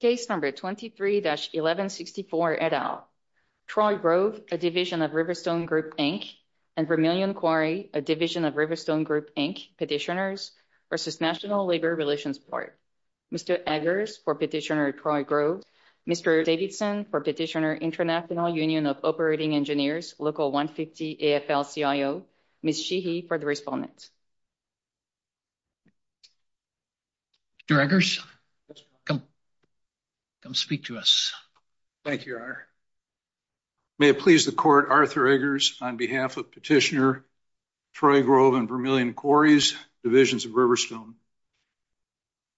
Case number 23-1164 et al. Troy Grove, a division of Riverstone Group Inc. and Vermillion Quarry, a division of Riverstone Group Inc. petitioners versus National Labor Relations Board. Mr. Eggers for petitioner Troy Grove. Mr. Davidson for petitioner International Union of Operating Engineers, Local 150 AFL-CIO. Ms. Sheehy for respondent. Mr. Eggers, come speak to us. Thank you, Your Honor. May it please the court, Arthur Eggers, on behalf of petitioner Troy Grove and Vermillion Quarry's divisions of Riverstone.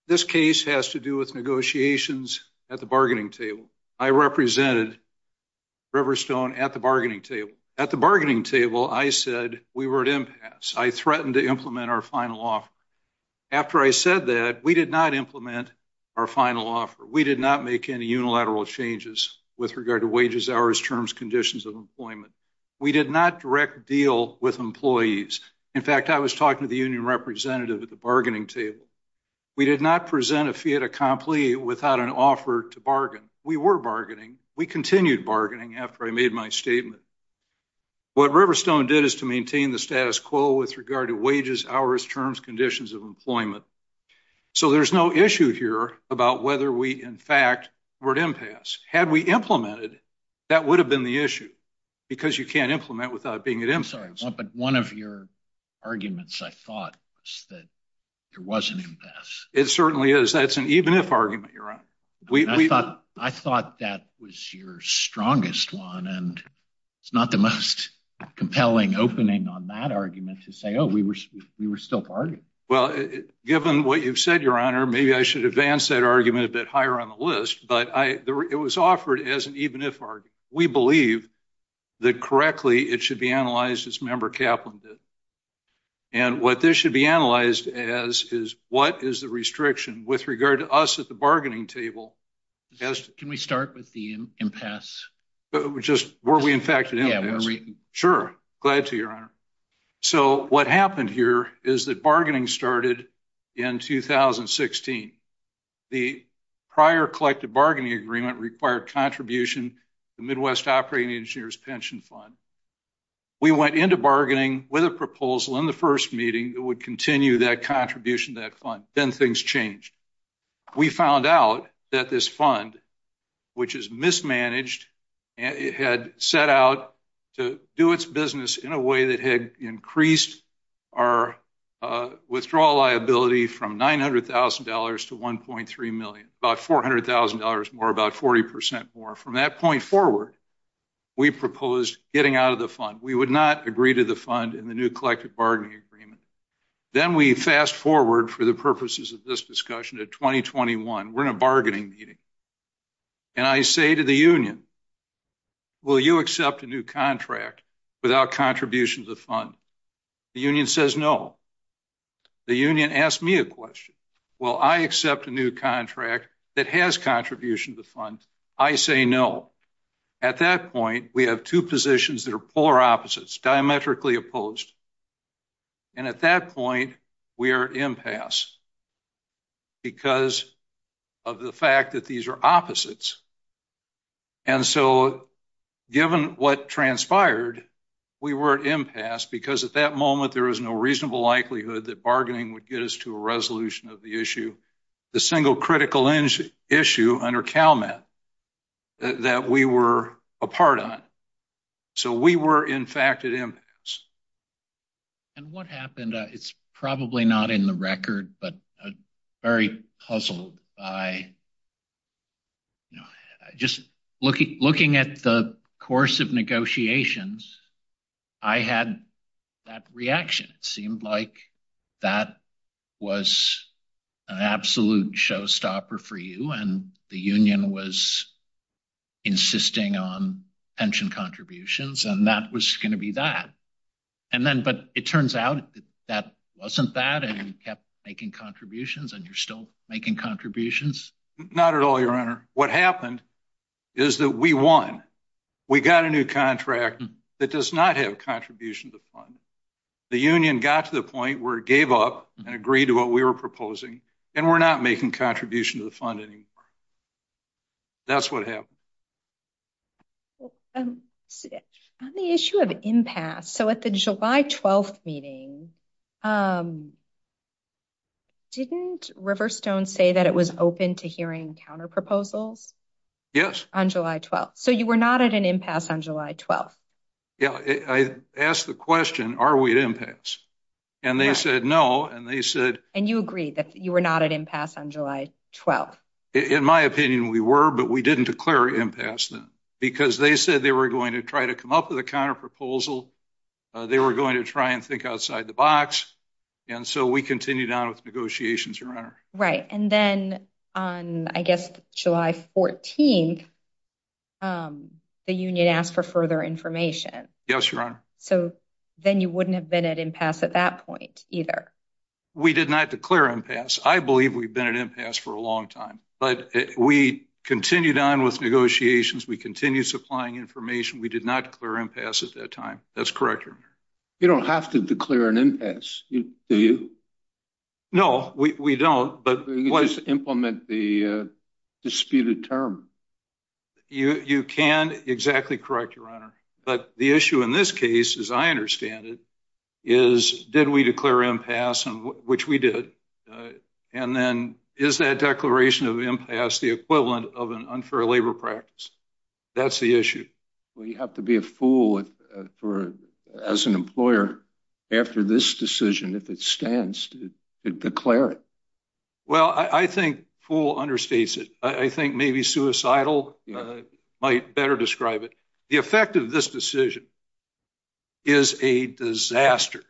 This case has to do with negotiations at the bargaining table. I represented Riverstone at At the bargaining table, I said we were at impasse. I threatened to implement our final offer. After I said that, we did not implement our final offer. We did not make any unilateral changes with regard to wages, hours, terms, conditions of employment. We did not direct deal with employees. In fact, I was talking to the union representative at the bargaining table. We did not present a fiat accompli without an offer to bargain. We were bargaining. We did not make any unilateral changes with regard to wages, hours, terms, conditions of employment. So there's no issue here about whether we, in fact, were at impasse. Had we implemented, that would have been the issue because you can't implement without being at impasse. But one of your arguments, I thought, was that there was an impasse. It certainly is. That's an even-if argument, Your Honor. We thought that was your strongest one, and it's not the most compelling opening on that argument to say, oh, we were still bargaining. Well, given what you've said, Your Honor, maybe I should advance that argument a bit higher on the list. But it was offered as an even-if argument. We believe that correctly it should be analyzed, as Member Kaplan did. And what this should be analyzed as is what is the restriction with regard to us at the table. Can we start with the impasse? Were we, in fact, at impasse? Yeah. Sure. Glad to, Your Honor. So what happened here is that bargaining started in 2016. The prior collective bargaining agreement required contribution to the Midwest Operating Engineers Pension Fund. We went into bargaining with a proposal in the first meeting that would this fund, which is mismanaged, had set out to do its business in a way that had increased our withdrawal liability from $900,000 to $1.3 million, about $400,000 more, about 40 percent more. From that point forward, we proposed getting out of the fund. We would not agree to the fund in the new collective bargaining agreement. Then we fast-forward for the purposes of this discussion to 2021. We're in a bargaining meeting. And I say to the union, will you accept a new contract without contribution to the fund? The union says no. The union asks me a question. Will I accept a new contract that has contribution to the fund? I say no. At that point, we have two positions that are polar opposites, diametrically opposed. And at that point, we are at impasse because of the fact that these are opposites. And so, given what transpired, we were at impasse because at that moment there was no reasonable likelihood that bargaining would get us to a resolution of the issue, the single critical issue under CalMet that we were a part on. So we were, in fact, at impasse. And what happened, it's probably not in the record, but very puzzled by just looking at the course of negotiations, I had that reaction. It seemed like that was an absolute showstopper for you, and the union was insisting on pension contributions, and that was going to be that. But it turns out that wasn't that, and you kept making contributions, and you're still making contributions. Not at all, Your Honor. What happened is that we won. We got a new contract that does not have contribution to the fund. The union got to the point where it gave up and agreed to what we were proposing, and we're not making contribution to the fund anymore. That's what happened. Well, on the issue of impasse, so at the July 12th meeting, didn't Riverstone say that it was open to hearing counterproposals? Yes. On July 12th. So you were not at an impasse on July 12th. Yeah, I asked the question, are we at impasse? And they said no, and they said... And you agreed that you were not at impasse on July 12th. In my opinion, we were, but we didn't declare impasse then, because they said they were going to try to come up with a counterproposal. They were going to try and think outside the box, and so we continued on with negotiations, Your Honor. Right. And then on, I guess, July 14th, the union asked for further information. Yes, Your Honor. So then you wouldn't have been at impasse at that point either. We did not declare impasse. I believe we've been at impasse for a long time, but we continued on with negotiations. We continued supplying information. We did not declare impasse at that time. That's correct, Your Honor. You don't have to declare an impasse, do you? No, we don't, but... You can just implement the disputed term. You can exactly correct, Your Honor, but the issue in this case, as I understand it, is did we declare impasse, which we did, and then is that declaration of impasse the equivalent of an unfair labor practice? That's the issue. Well, you have to be a fool as an employer after this decision, if it stands, to declare it. Well, I think fool understates it. I think maybe suicidal might better describe it. The effect of this decision is a disaster.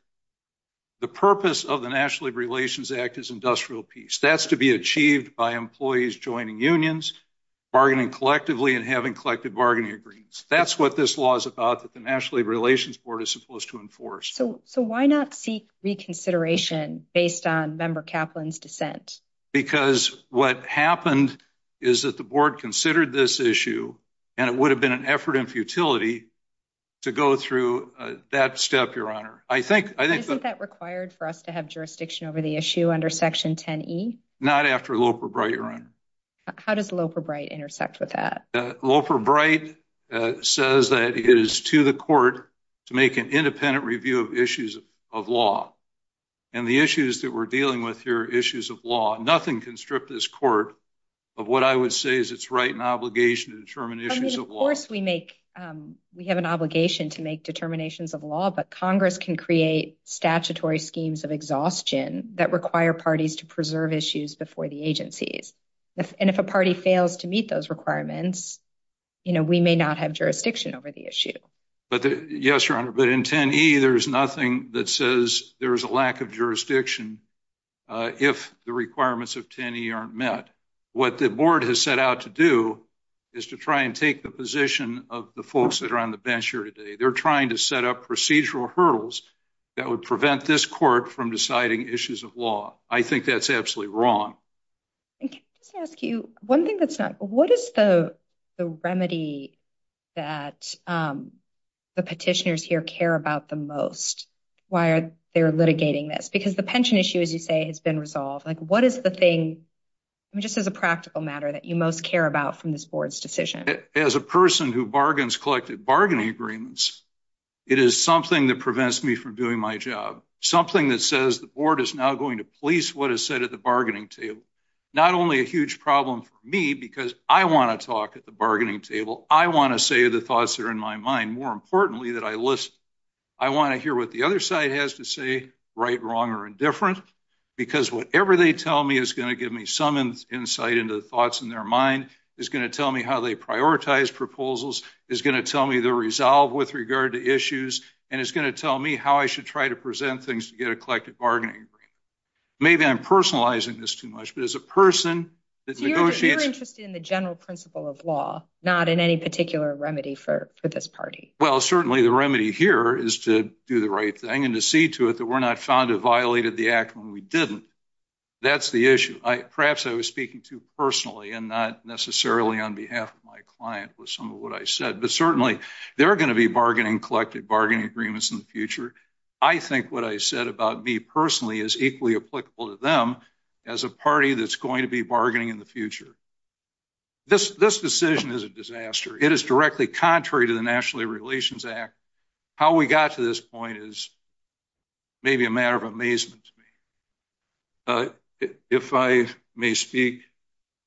The purpose of the National Labor Relations Act is industrial peace. That's to be achieved by employees joining unions, bargaining collectively, and having collective bargaining agreements. That's what this law is about that the National Labor Relations Board is supposed to enforce. So why not seek reconsideration based on Member Kaplan's dissent? Because what happened is that the board considered this issue, and it would have been an effort and futility to go through that step, Your Honor. I think... Isn't that required for us to have jurisdiction over the issue under Section 10E? Not after Loper-Bright, Your Honor. How does Loper-Bright intersect with that? Loper-Bright says that it is to the court to make an independent review of issues of law, and the issues that we're dealing with here are issues of law. Nothing can strip this court of what I would say is its right and obligation to determine issues of law. I mean, of course we have an obligation to make determinations of law, but Congress can create statutory schemes of exhaustion that require parties to preserve issues before the agencies. And if a party fails to meet those requirements, we may not have jurisdiction over the issue. Yes, Your Honor, but in 10E, there's nothing that says there's a lack of jurisdiction if the requirements of 10E aren't met. What the board has set out to do is to try and take the position of the folks that are on the bench here today. They're trying to set up procedural hurdles that would prevent this court from deciding issues of law. I think that's absolutely wrong. And can I just ask you one thing that's not... What is the remedy that the petitioners here care about the most? Why are they litigating this? Because the pension issue, as you say, has been resolved. Like, what is the thing, just as a practical matter, that you most care about from this board's decision? As a person who bargains collective bargaining agreements, it is something that prevents me from doing my job. Something that says the board is now going to police what is said at the bargaining table. Not only a huge problem for me, because I want to talk at the bargaining table. I want to say the thoughts that are in my mind. More importantly, that I listen. I want to hear what the other side has to say, right, wrong, or indifferent. Because whatever they tell me is going to give me some insight into the thoughts in their mind. It's going to tell me how they prioritize proposals. It's going to tell me the resolve with regard to issues. And it's going to tell me how I should try to present things to get a collective bargaining agreement. Maybe I'm personalizing this too much, but as a person that negotiates... You're interested in the general principle of law, not in any particular remedy for this party. Well, certainly the remedy here is to do the right thing, and to see to it that we're not found to have violated the act when we didn't. That's the issue. Perhaps I was speaking too personally, and not necessarily on behalf of my client with some of what I said. But certainly, there are going to be bargaining, collective bargaining agreements in the future. I think what I said about me personally is equally applicable to them as a party that's going to be bargaining in the future. This decision is a disaster. It is directly contrary to the National Labor Relations Act. How we got to this point is maybe a matter of amazement to me. If I may speak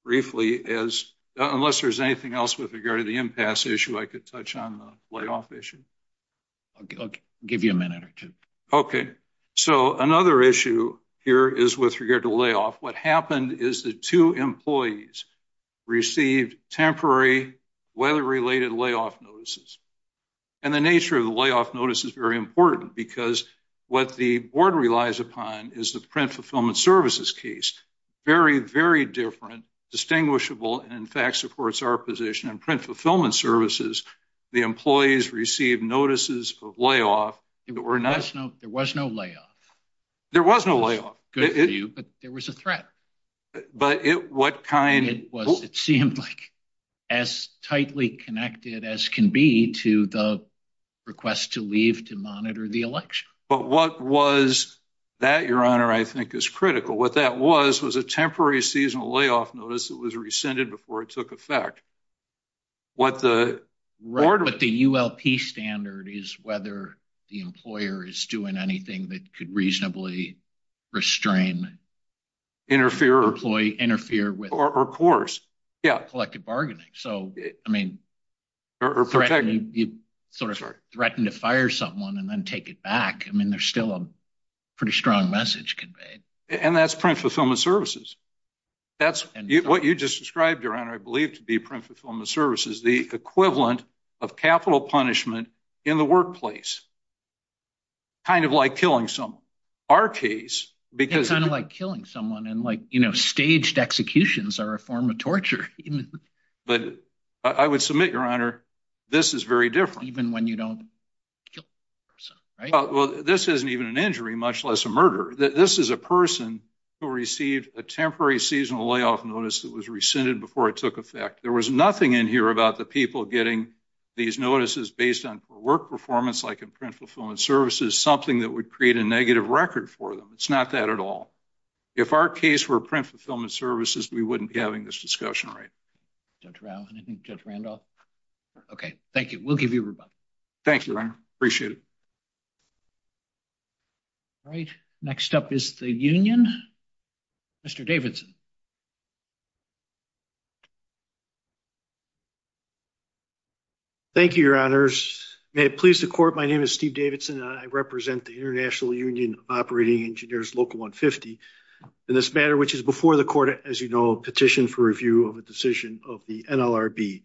briefly as... Unless there's anything else with regard to the impasse issue, I could touch on the layoff issue. I'll give you a minute or two. Okay. So another issue here is with regard to layoff. What happened is the two employees received temporary... Weather-related layoff notices. And the nature of the layoff notice is very important because what the board relies upon is the Print Fulfillment Services case. Very, very different, distinguishable, and in fact supports our position in Print Fulfillment Services. The employees received notices of layoff that were not... There was no layoff. There was no layoff. Good for you, but there was a threat. But what kind... It seemed like as tightly connected as can be to the request to leave to monitor the election. But what was that, Your Honor, I think is critical. What that was was a temporary seasonal layoff notice that was rescinded before it took effect. What the board... But the ULP standard is whether the employer is doing anything that could reasonably restrain... Interfere or... Interfere with... Or coerce, yeah. Collective bargaining. So, I mean, you sort of threatened to fire someone and then take it back. I mean, there's still a pretty strong message conveyed. And that's Print Fulfillment Services. That's what you just described, Your Honor, I believe to be Print Fulfillment Services, the equivalent of capital punishment in the workplace. Kind of like killing someone. Our case, because... Unpunished executions are a form of torture. But I would submit, Your Honor, this is very different. Even when you don't kill a person, right? Well, this isn't even an injury, much less a murder. This is a person who received a temporary seasonal layoff notice that was rescinded before it took effect. There was nothing in here about the people getting these notices based on poor work performance, like in Print Fulfillment Services, something that would create a negative record for them. It's not that at all. If our case were Print Fulfillment Services, we wouldn't be having this discussion, right? Judge Rao, anything Judge Randolph? Okay, thank you. We'll give you a rebuttal. Thank you, Your Honor. Appreciate it. All right, next up is the union. Mr. Davidson. Thank you, Your Honors. May it please the court, my name is Steve Davidson. I represent the International Union of Operating Engineers, Local 150, in this matter, which is before the court, as you know, petition for review of a decision of the NLRB.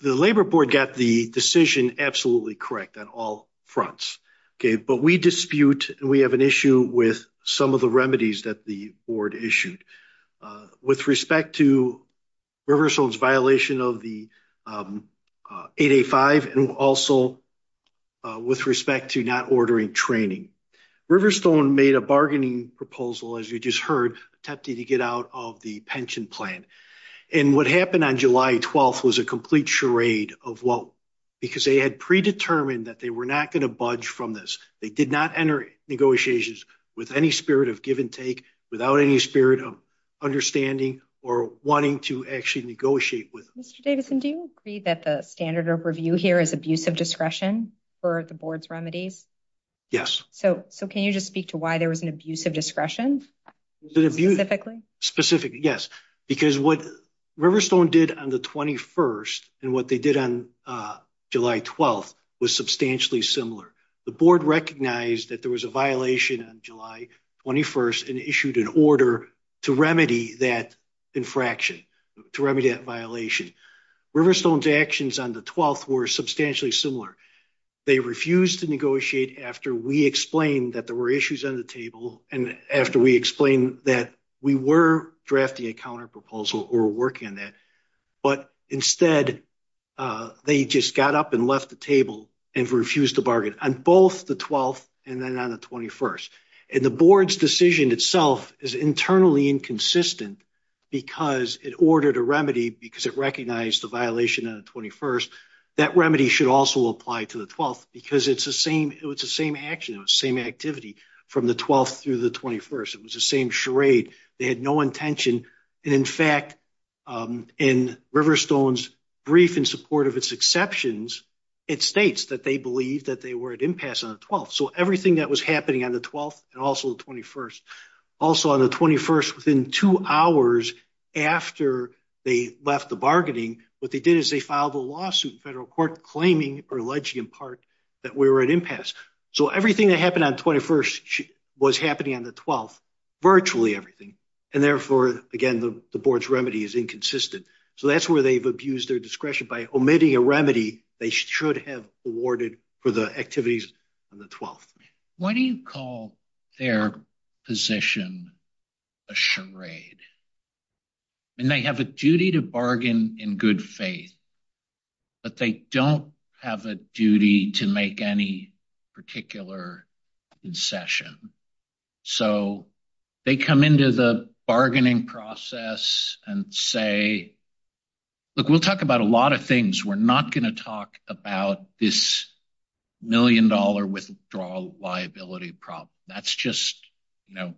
The Labor Board got the decision absolutely correct on all fronts, okay, but we dispute and we have an issue with some of the remedies that the board issued with respect to Riverstone's violation of the 885 and also with respect to not ordering training. Riverstone made a bargaining proposal, as you just heard, attempting to get out of the pension plan. And what happened on July 12th was a complete charade of what, because they had predetermined that they were not going to budge from this. They did not enter negotiations with any spirit of give and take, without any spirit of understanding or wanting to actually negotiate with them. Mr. Davidson, do you agree that the standard of review here is abusive discretion for the board's remedies? Yes. So can you just speak to why there was an abusive discretion? Specifically, yes, because what Riverstone did on the 21st and what they did on July 12th was substantially similar. The board recognized that there was a violation on July 21st and issued an order to remedy that infraction, to remedy that violation. Riverstone's actions on the 12th were substantially similar. They refused to negotiate after we explained that there were issues on the table and after we explained that we were drafting a counterproposal or working on that. But instead, they just got up and left the table and refused to bargain on both the 12th and then on the 21st. And the board's decision itself is internally inconsistent because it ordered a remedy because it recognized the violation on the 21st. That remedy should also apply to the 12th because it's the same action, the same activity from the 12th through the 21st. It was the same charade. They had no intention. And in fact, in Riverstone's brief in support of its exceptions, it states that they believe that they were at impasse on the 12th. So everything that was happening on the 12th and also the 21st, also on the 21st, within two hours after they left the bargaining, what they did is they filed a lawsuit, federal court claiming or alleging in part that we were at impasse. So everything that happened on 21st was happening on the 12th, virtually everything. And therefore, again, the board's remedy is inconsistent. So that's where they've abused their discretion by omitting a remedy they should have awarded for the activities on the 12th. Why do you call their position a charade? And they have a duty to bargain in good faith, but they don't have a duty to make any particular concession. So they come into the bargaining process and say, look, we'll talk about a lot of things. We're not gonna talk about this million dollar withdrawal liability problem. That's just, you know,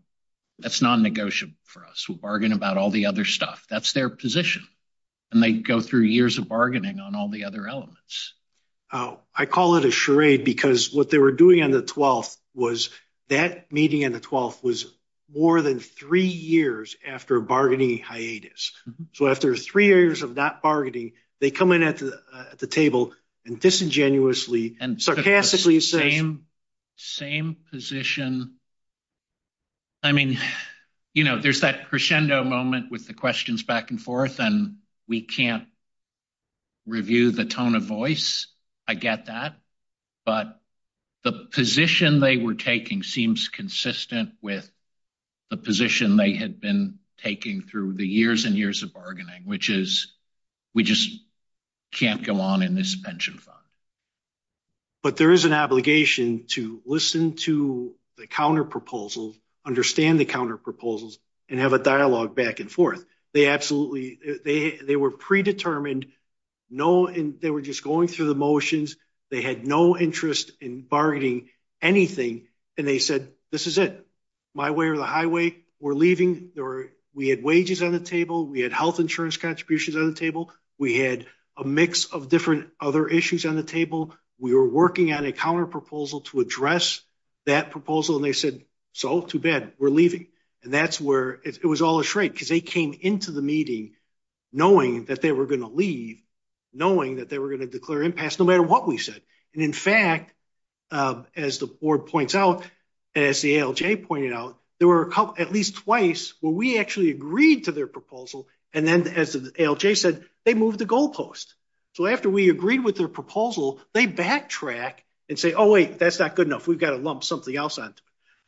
that's non-negotiable for us. We'll bargain about all the other stuff. That's their position. And they go through years of bargaining on all the other elements. Oh, I call it a charade because what they were doing on the 12th was that meeting on the 12th was more than three years after a bargaining hiatus. So after three years of not bargaining, they come in at the table and disingenuously and sarcastically says- Same position. I mean, you know, there's that crescendo moment with the questions back and forth and we can't review the tone of voice. I get that. But the position they were taking seems consistent with the position they had been taking through the years and years of bargaining, which is we just can't go on in this pension fund. But there is an obligation to listen to the counter-proposals, understand the counter-proposals and have a dialogue back and forth. They were predetermined. They were just going through the motions. They had no interest in bargaining anything. And they said, this is it. My way or the highway, we're leaving. We had wages on the table. We had health insurance contributions on the table. We had a mix of different other issues on the table. We were working on a counter-proposal to address that proposal. And they said, so too bad, we're leaving. And that's where it was all a shrink because they came into the meeting knowing that they were going to leave, knowing that they were going to declare impasse no matter what we said. And in fact, as the board points out, as the ALJ pointed out, there were at least twice where we actually agreed to their proposal. And then as the ALJ said, they moved the goalpost. So after we agreed with their proposal, they backtrack and say, oh wait, that's not good enough. We've got to lump something else on.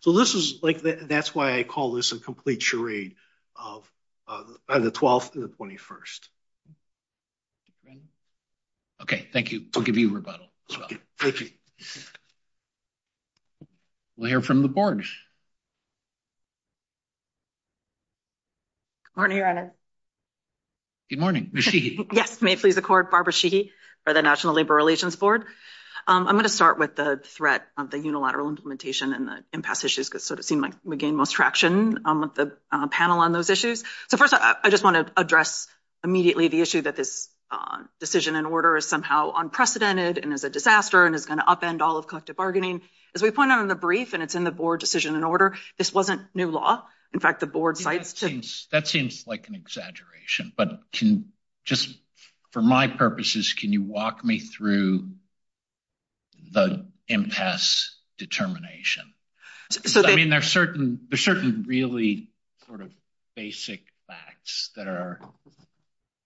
So this was like, that's why I call this a complete charade of the 12th and the 21st. Okay, thank you. I'll give you rebuttal. We'll hear from the board. Good morning, Your Honor. Good morning, Ms. Sheehy. Yes, may it please the court, Barbara Sheehy for the National Labor Relations Board. I'm going to start with the threat of the unilateral implementation and the impasse issues because it seemed like we gained most traction with the panel on those issues. So first, I just want to address immediately the issue that this decision and order is somehow unprecedented and is a disaster and is going to upend all of collective bargaining. As we pointed out in the brief and it's in the board decision and order, this wasn't new law. In fact, the board cites to- That seems like an exaggeration, but just for my purposes, can you walk me through the impasse determination? I mean, there's certain really sort of basic facts that are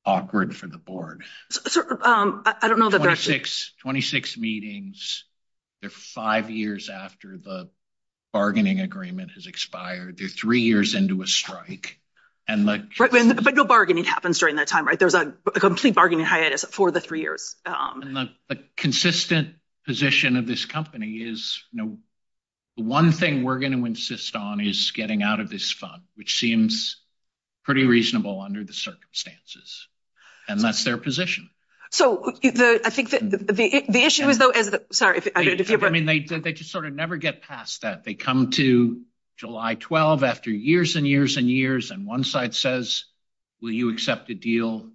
awkward for the board. 26 meetings, they're five years after the bargaining agreement has expired. They're three years into a strike. But no bargaining happens during that time, right? There's a complete bargaining hiatus for the three years. And the consistent position of this company is, the one thing we're going to insist on is getting out of this fund, which seems pretty reasonable under the circumstances. And that's their position. So I think the issue is though- Sorry, I don't know if you- I mean, they just sort of never get past that. They come to July 12 after years and years and years, and one side says, will you accept a deal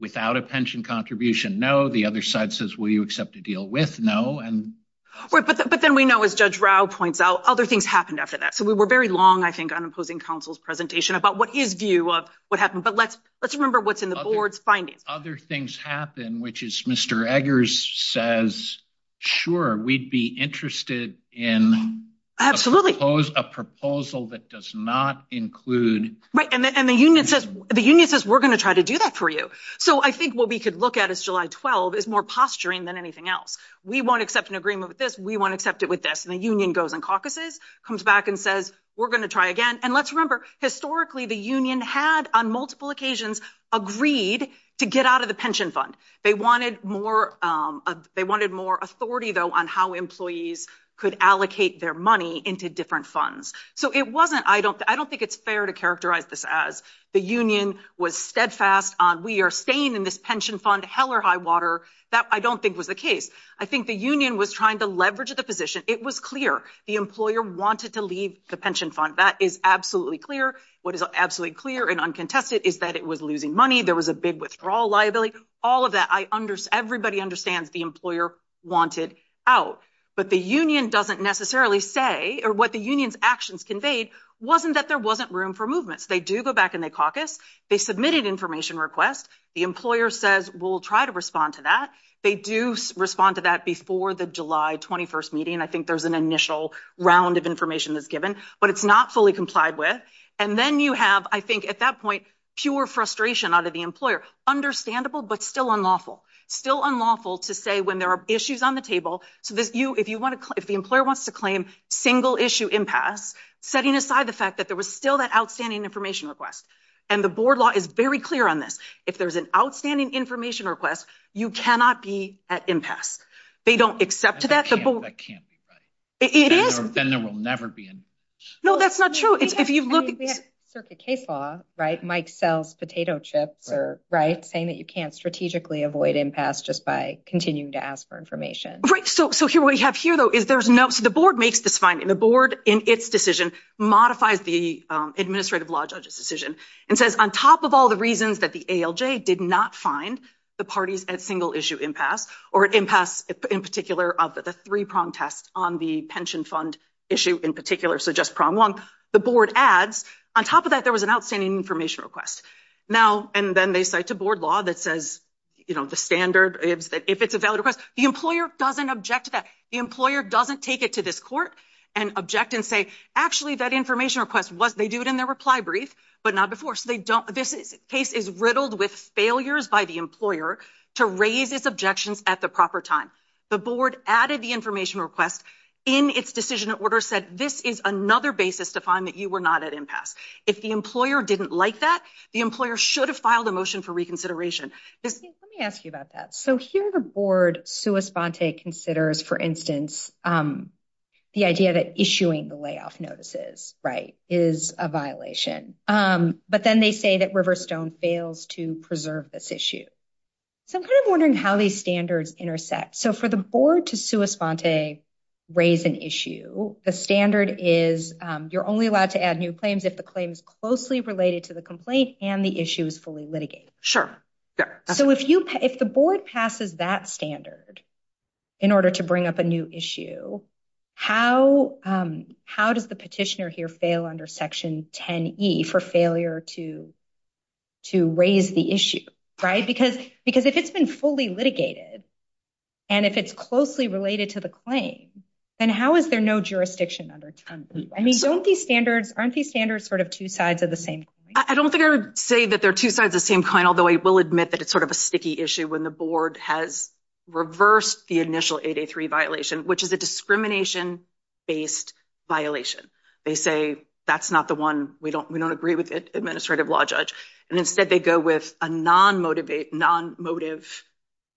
without a pension contribution? No. The other side says, will you accept a deal with? No. But then we know, as Judge Rao points out, other things happened after that. So we were very long, I think, on imposing counsel's presentation about what his view of what happened. But let's remember what's in the board's findings. Other things happen, which is Mr. Eggers says, sure, we'd be interested in a proposal that does not include- And the union says, we're going to try to do that for you. So I think what we could look at as July 12 is more posturing than anything else. We won't accept an agreement with this. We won't accept it with this. And the union goes and caucuses, comes back and says, we're going to try again. And let's remember, historically, the union had on multiple occasions agreed to get out of the pension fund. They wanted more authority though on how employees could allocate their money into different funds. So it wasn't- The union was steadfast on, we are staying in this pension fund, hell or high water. That I don't think was the case. I think the union was trying to leverage the position. It was clear. The employer wanted to leave the pension fund. That is absolutely clear. What is absolutely clear and uncontested is that it was losing money. There was a big withdrawal liability. All of that, everybody understands the employer wanted out. But the union doesn't necessarily say, or what the union's actions conveyed wasn't that there wasn't room for movements. They do go back and they caucus. They submitted information requests. The employer says, we'll try to respond to that. They do respond to that before the July 21st meeting. I think there's an initial round of information that's given, but it's not fully complied with. And then you have, I think at that point, pure frustration out of the employer. Understandable, but still unlawful. Still unlawful to say when there are issues on the table. So if the employer wants to claim single issue impasse, setting aside the fact that there was still that outstanding information request. And the board law is very clear on this. If there's an outstanding information request, you cannot be at impasse. They don't accept that. That can't be right. It is. Then there will never be an impasse. No, that's not true. It's if you look at the circuit case law, right? Mike sells potato chips, right? Saying that you can't strategically avoid impasse just by continuing to ask for information. Right. So what we have here, though, is there's no, so the board makes this finding. The board, in its decision, modifies the administrative law judge's decision and says, on top of all the reasons that the ALJ did not find the parties at single issue impasse or impasse in particular of the three-prong test on the pension fund issue in particular, so just prong one, the board adds, on top of that, there was an outstanding information request. And then they cite a board law that says, the standard is that if it's a valid request, the employer doesn't object to that. The employer doesn't take it to this court. And object and say, actually, that information request was, they do it in their reply brief, but not before. So they don't, this case is riddled with failures by the employer to raise its objections at the proper time. The board added the information request. In its decision order said, this is another basis to find that you were not at impasse. If the employer didn't like that, the employer should have filed a motion for reconsideration. Let me ask you about that. So here the board sua sponte considers, for instance, the idea that issuing the layoff notices, right, is a violation. But then they say that Riverstone fails to preserve this issue. So I'm kind of wondering how these standards intersect. So for the board to sua sponte raise an issue, the standard is, you're only allowed to add new claims if the claim is closely related to the complaint and the issue is fully litigated. Sure, yeah. So if you, if the board passes that standard in order to bring up a new issue, how does the petitioner here fail under section 10E for failure to raise the issue, right? Because if it's been fully litigated and if it's closely related to the claim, then how is there no jurisdiction under 10E? I mean, don't these standards, aren't these standards sort of two sides of the same coin? I don't think I would say that they're two sides of the same coin, although I will admit that it's sort of a sticky issue when the board has reversed the initial 8A3 violation, which is a discrimination-based violation. They say, that's not the one, we don't agree with it, administrative law judge. And instead they go with a non-motivated, non-motive,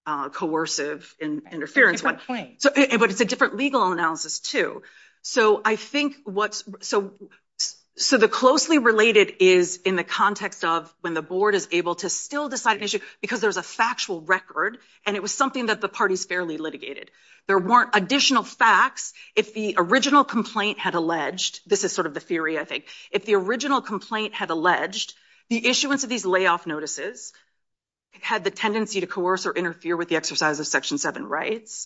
coercive interference. But it's a different legal analysis too. So I think what's, so the closely related is in the context of when the board is able to still decide an issue because there's a factual record and it was something that the parties fairly litigated. There weren't additional facts if the original complaint had alleged, this is sort of the theory I think, if the original complaint had alleged the issuance of these layoff notices had the tendency to coerce or interfere with the exercise of Section 7 rights.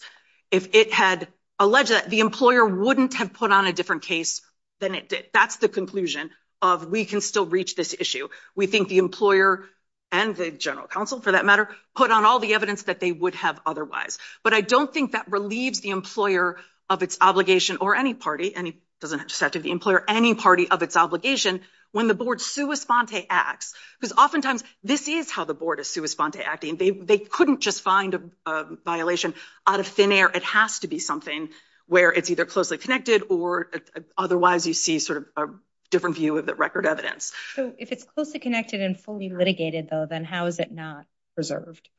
If it had alleged that, the employer wouldn't have put on a different case than it did. That's the conclusion of we can still reach this issue. We think the employer and the general counsel, for that matter, put on all the evidence that they would have otherwise. But I don't think that relieves the employer of its obligation or any party, and it doesn't have to be the employer, any party of its obligation when the board sua sponte acts. Because oftentimes this is how the board is sua sponte acting. They couldn't just find a violation out of thin air. It has to be something where it's either closely connected or otherwise you see sort of a different view of the record evidence. So if it's closely connected and fully litigated, though, then how is it not reserved?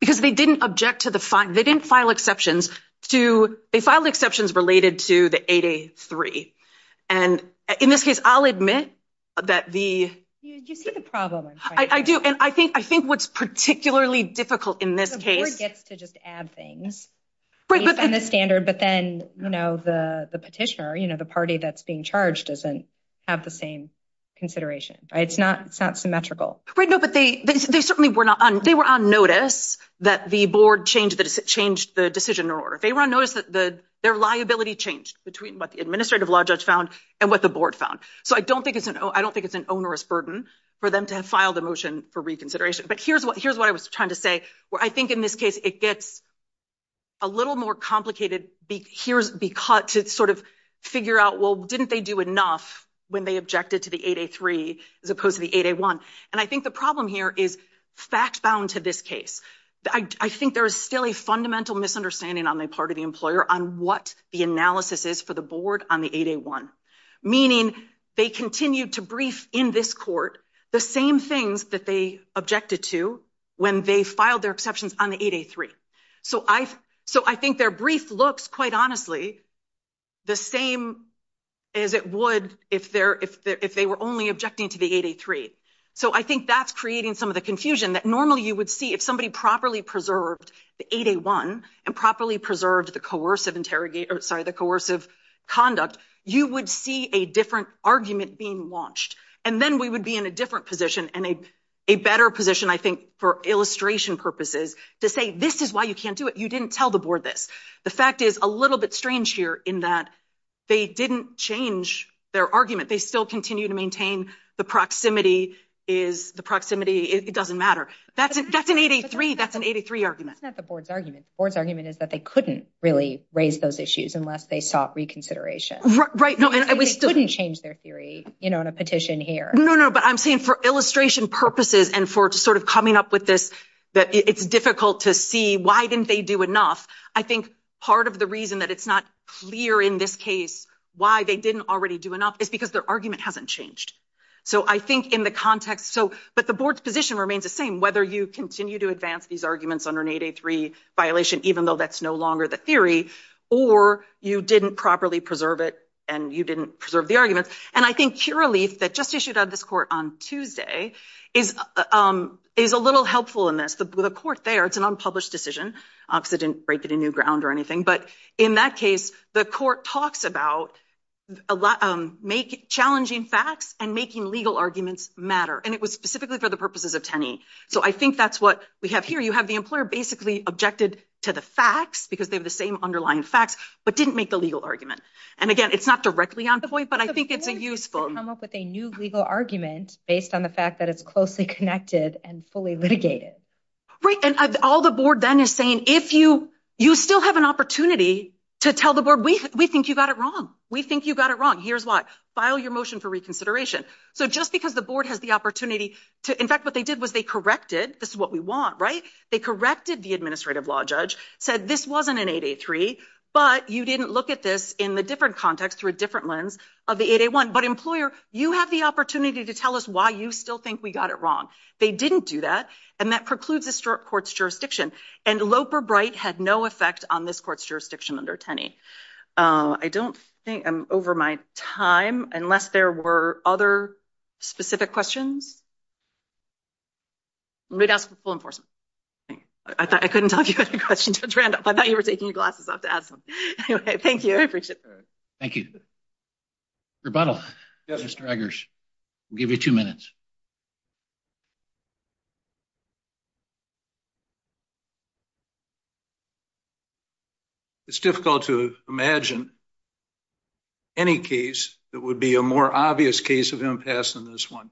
Because they didn't object to the fine. They didn't file exceptions to, they filed exceptions related to the 8A3. And in this case, I'll admit that the. You see the problem. I do. And I think what's particularly difficult in this case. The board gets to just add things. Based on the standard, but then, you know, the petitioner, you know, the party that's being charged doesn't have the same consideration, right? It's not, it's not symmetrical, right? No, but they, they certainly were not on. They were on notice that the board changed, changed the decision or they were on notice that their liability changed between what the administrative law judge found and what the board found. So I don't think it's an, I don't think it's an onerous burden for them to have filed a motion for reconsideration. But here's what, here's what I was trying to say, where I think in this case, it gets a little more complicated. Here's because it's sort of figure out, well, didn't they do enough when they objected to the 8A3 as opposed to the 8A1? And I think the problem here is fact bound to this case. I think there is still a fundamental misunderstanding on the part of the employer on what the analysis is for the board on the 8A1. Meaning they continued to brief in this court the same things that they objected to when they filed their exceptions on the 8A3. So I've, so I think their brief looks quite honestly, the same as it would if they're, if they were only objecting to the 8A3. So I think that's creating some of the confusion that normally you would see if somebody properly preserved the 8A1 and properly preserved the coercive interrogator, sorry, the coercive conduct, you would see a different argument being launched. And then we would be in a different position and a better position, I think, for illustration purposes to say, this is why you can't do it. You didn't tell the board this. The fact is a little bit strange here in that they didn't change their argument. They still continue to maintain the proximity is, the proximity, it doesn't matter. That's an 8A3, that's an 8A3 argument. That's not the board's argument. The board's argument is that they couldn't really raise those issues unless they sought reconsideration. Right, right. No, and we still couldn't change their theory, you know, in a petition here. No, no, but I'm saying for illustration purposes and for sort of coming up with this, that it's difficult to see why didn't they do enough. I think part of the reason that it's not clear in this case why they didn't already do enough is because their argument hasn't changed. So I think in the context, so, but the board's position remains the same, whether you continue to advance these arguments under an 8A3 violation, even though that's no longer the theory, or you didn't properly preserve it and you didn't preserve the arguments. And I think curaleaf that just issued out of this court on Tuesday is a little helpful in this. The court there, it's an unpublished decision because they didn't break it in new ground or anything. But in that case, the court talks about challenging facts and making legal arguments matter. And it was specifically for the purposes of Tenney. So I think that's what we have here. You have the employer basically objected to the facts because they have the same underlying facts, but didn't make the legal argument. And again, it's not directly on point, but I think it's a useful- The board didn't come up with a new legal argument based on the fact that it's closely connected and fully litigated. Right, and all the board then is saying, if you still have an opportunity to tell the board, we think you got it wrong. We think you got it wrong. Here's why, file your motion for reconsideration. So just because the board has the opportunity to, in fact, what they did was they corrected, this is what we want, right? They corrected the administrative law judge, said this wasn't an 8A3, but you didn't look at this in the different context through a different lens of the 8A1. But employer, you have the opportunity to tell us why you still think we got it wrong. They didn't do that. And that precludes this court's jurisdiction. And Loper-Bright had no effect on this court's jurisdiction under 10E. I don't think I'm over my time, unless there were other specific questions. Let me ask the full enforcement. I couldn't tell if you had a question, Judge Randolph. I thought you were taking your glasses off to ask them. Thank you, I appreciate it. Thank you. Rebuttal, Mr. Eggers. We'll give you two minutes. It's difficult to imagine any case that would be a more obvious case of impasse than this one.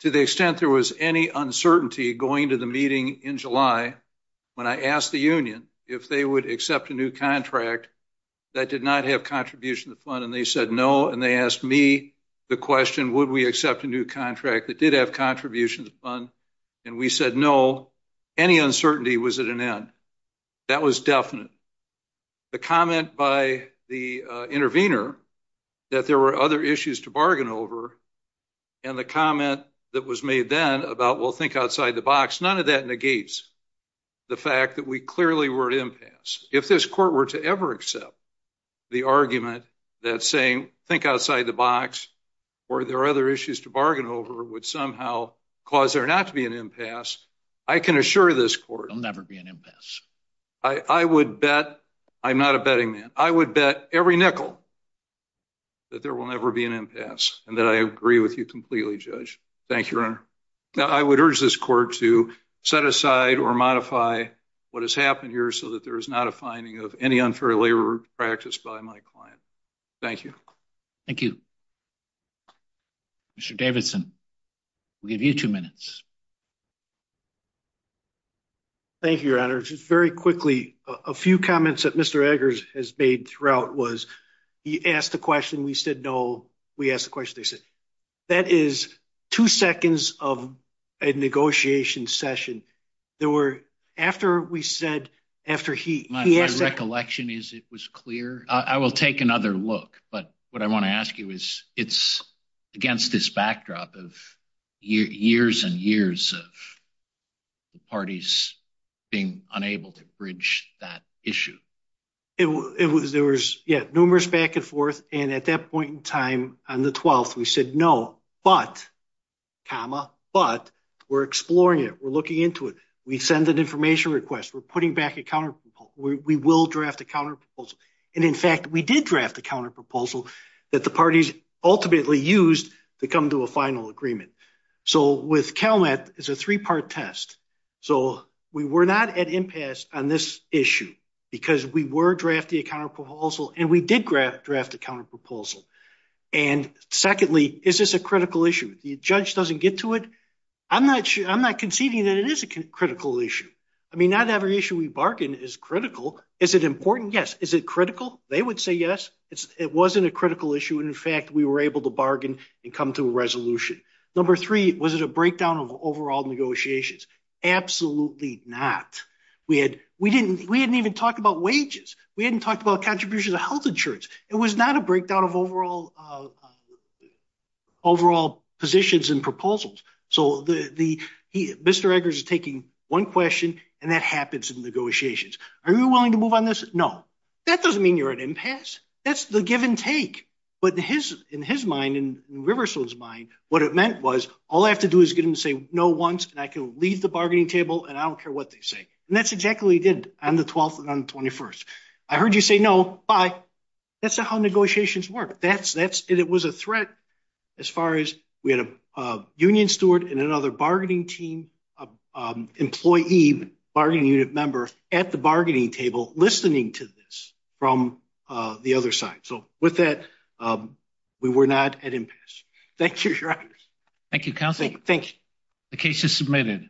To the extent there was any uncertainty going to the meeting in July, when I asked the union if they would accept a new contract that did not have contribution to the fund, and they said no. And they asked me the question, would we accept a new contract that did have contribution to the fund? And we said no, any uncertainty was at an end. That was definite. The comment by the intervener that there were other issues to bargain over, and the comment that was made then about we'll think outside the box, none of that negates the fact that we clearly were at impasse. If this court were to ever accept the argument that saying think outside the box or there are other issues to bargain over, would somehow cause there not to be an impasse, I can assure this court- There'll never be an impasse. I would bet, I'm not a betting man, I would bet every nickel that there will never be an impasse, and that I agree with you completely, Judge. Thank you, Your Honor. Now, I would urge this court to set aside or modify what has happened here so that there is not a finding of any unfair labor practice by my client. Thank you. Thank you. Mr. Davidson. We'll give you two minutes. Thank you, Your Honor. Just very quickly, a few comments that Mr. Eggers has made throughout was he asked the question, we said no. We asked the question, they said, that is two seconds of a negotiation session. There were, after we said, after he- My recollection is it was clear. I will take another look, but what I want to ask you is, it's against this backdrop of years and years of the parties being unable to bridge that issue. There was, yeah, numerous back and forth, and at that point in time, on the 12th, we said no, but, comma, but, we're exploring it, we're looking into it. We send an information request. We're putting back a counterproposal. We will draft a counterproposal. And in fact, we did draft a counterproposal that the parties ultimately used to come to a final agreement. So with CalMet, it's a three-part test. So we were not at impasse on this issue because we were drafting a counterproposal, and we did draft a counterproposal. And secondly, is this a critical issue? The judge doesn't get to it. I'm not conceding that it is a critical issue. I mean, not every issue we bargain is critical. Is it important? Yes. Is it critical? They would say yes. It wasn't a critical issue. And in fact, we were able to bargain and come to a resolution. Number three, was it a breakdown of overall negotiations? Absolutely not. We hadn't even talked about wages. We hadn't talked about contributions of health insurance. It was not a breakdown of overall positions and proposals. So Mr. Eggers is taking one question, and that happens in negotiations. Are you willing to move on this? No. That doesn't mean you're at impasse. That's the give and take. But in his mind, in Riverstone's mind, what it meant was, all I have to do is get him to say no once, and I can leave the bargaining table, and I don't care what they say. And that's exactly what he did on the 12th and on the 21st. I heard you say no, bye. That's not how negotiations work. That's, and it was a threat as far as we had a union steward and another bargaining team, employee bargaining unit member at the bargaining table listening to this from the other side. So with that, we were not at impasse. Thank you, Your Honors. Thank you, Counselor. Thank you. The case is submitted.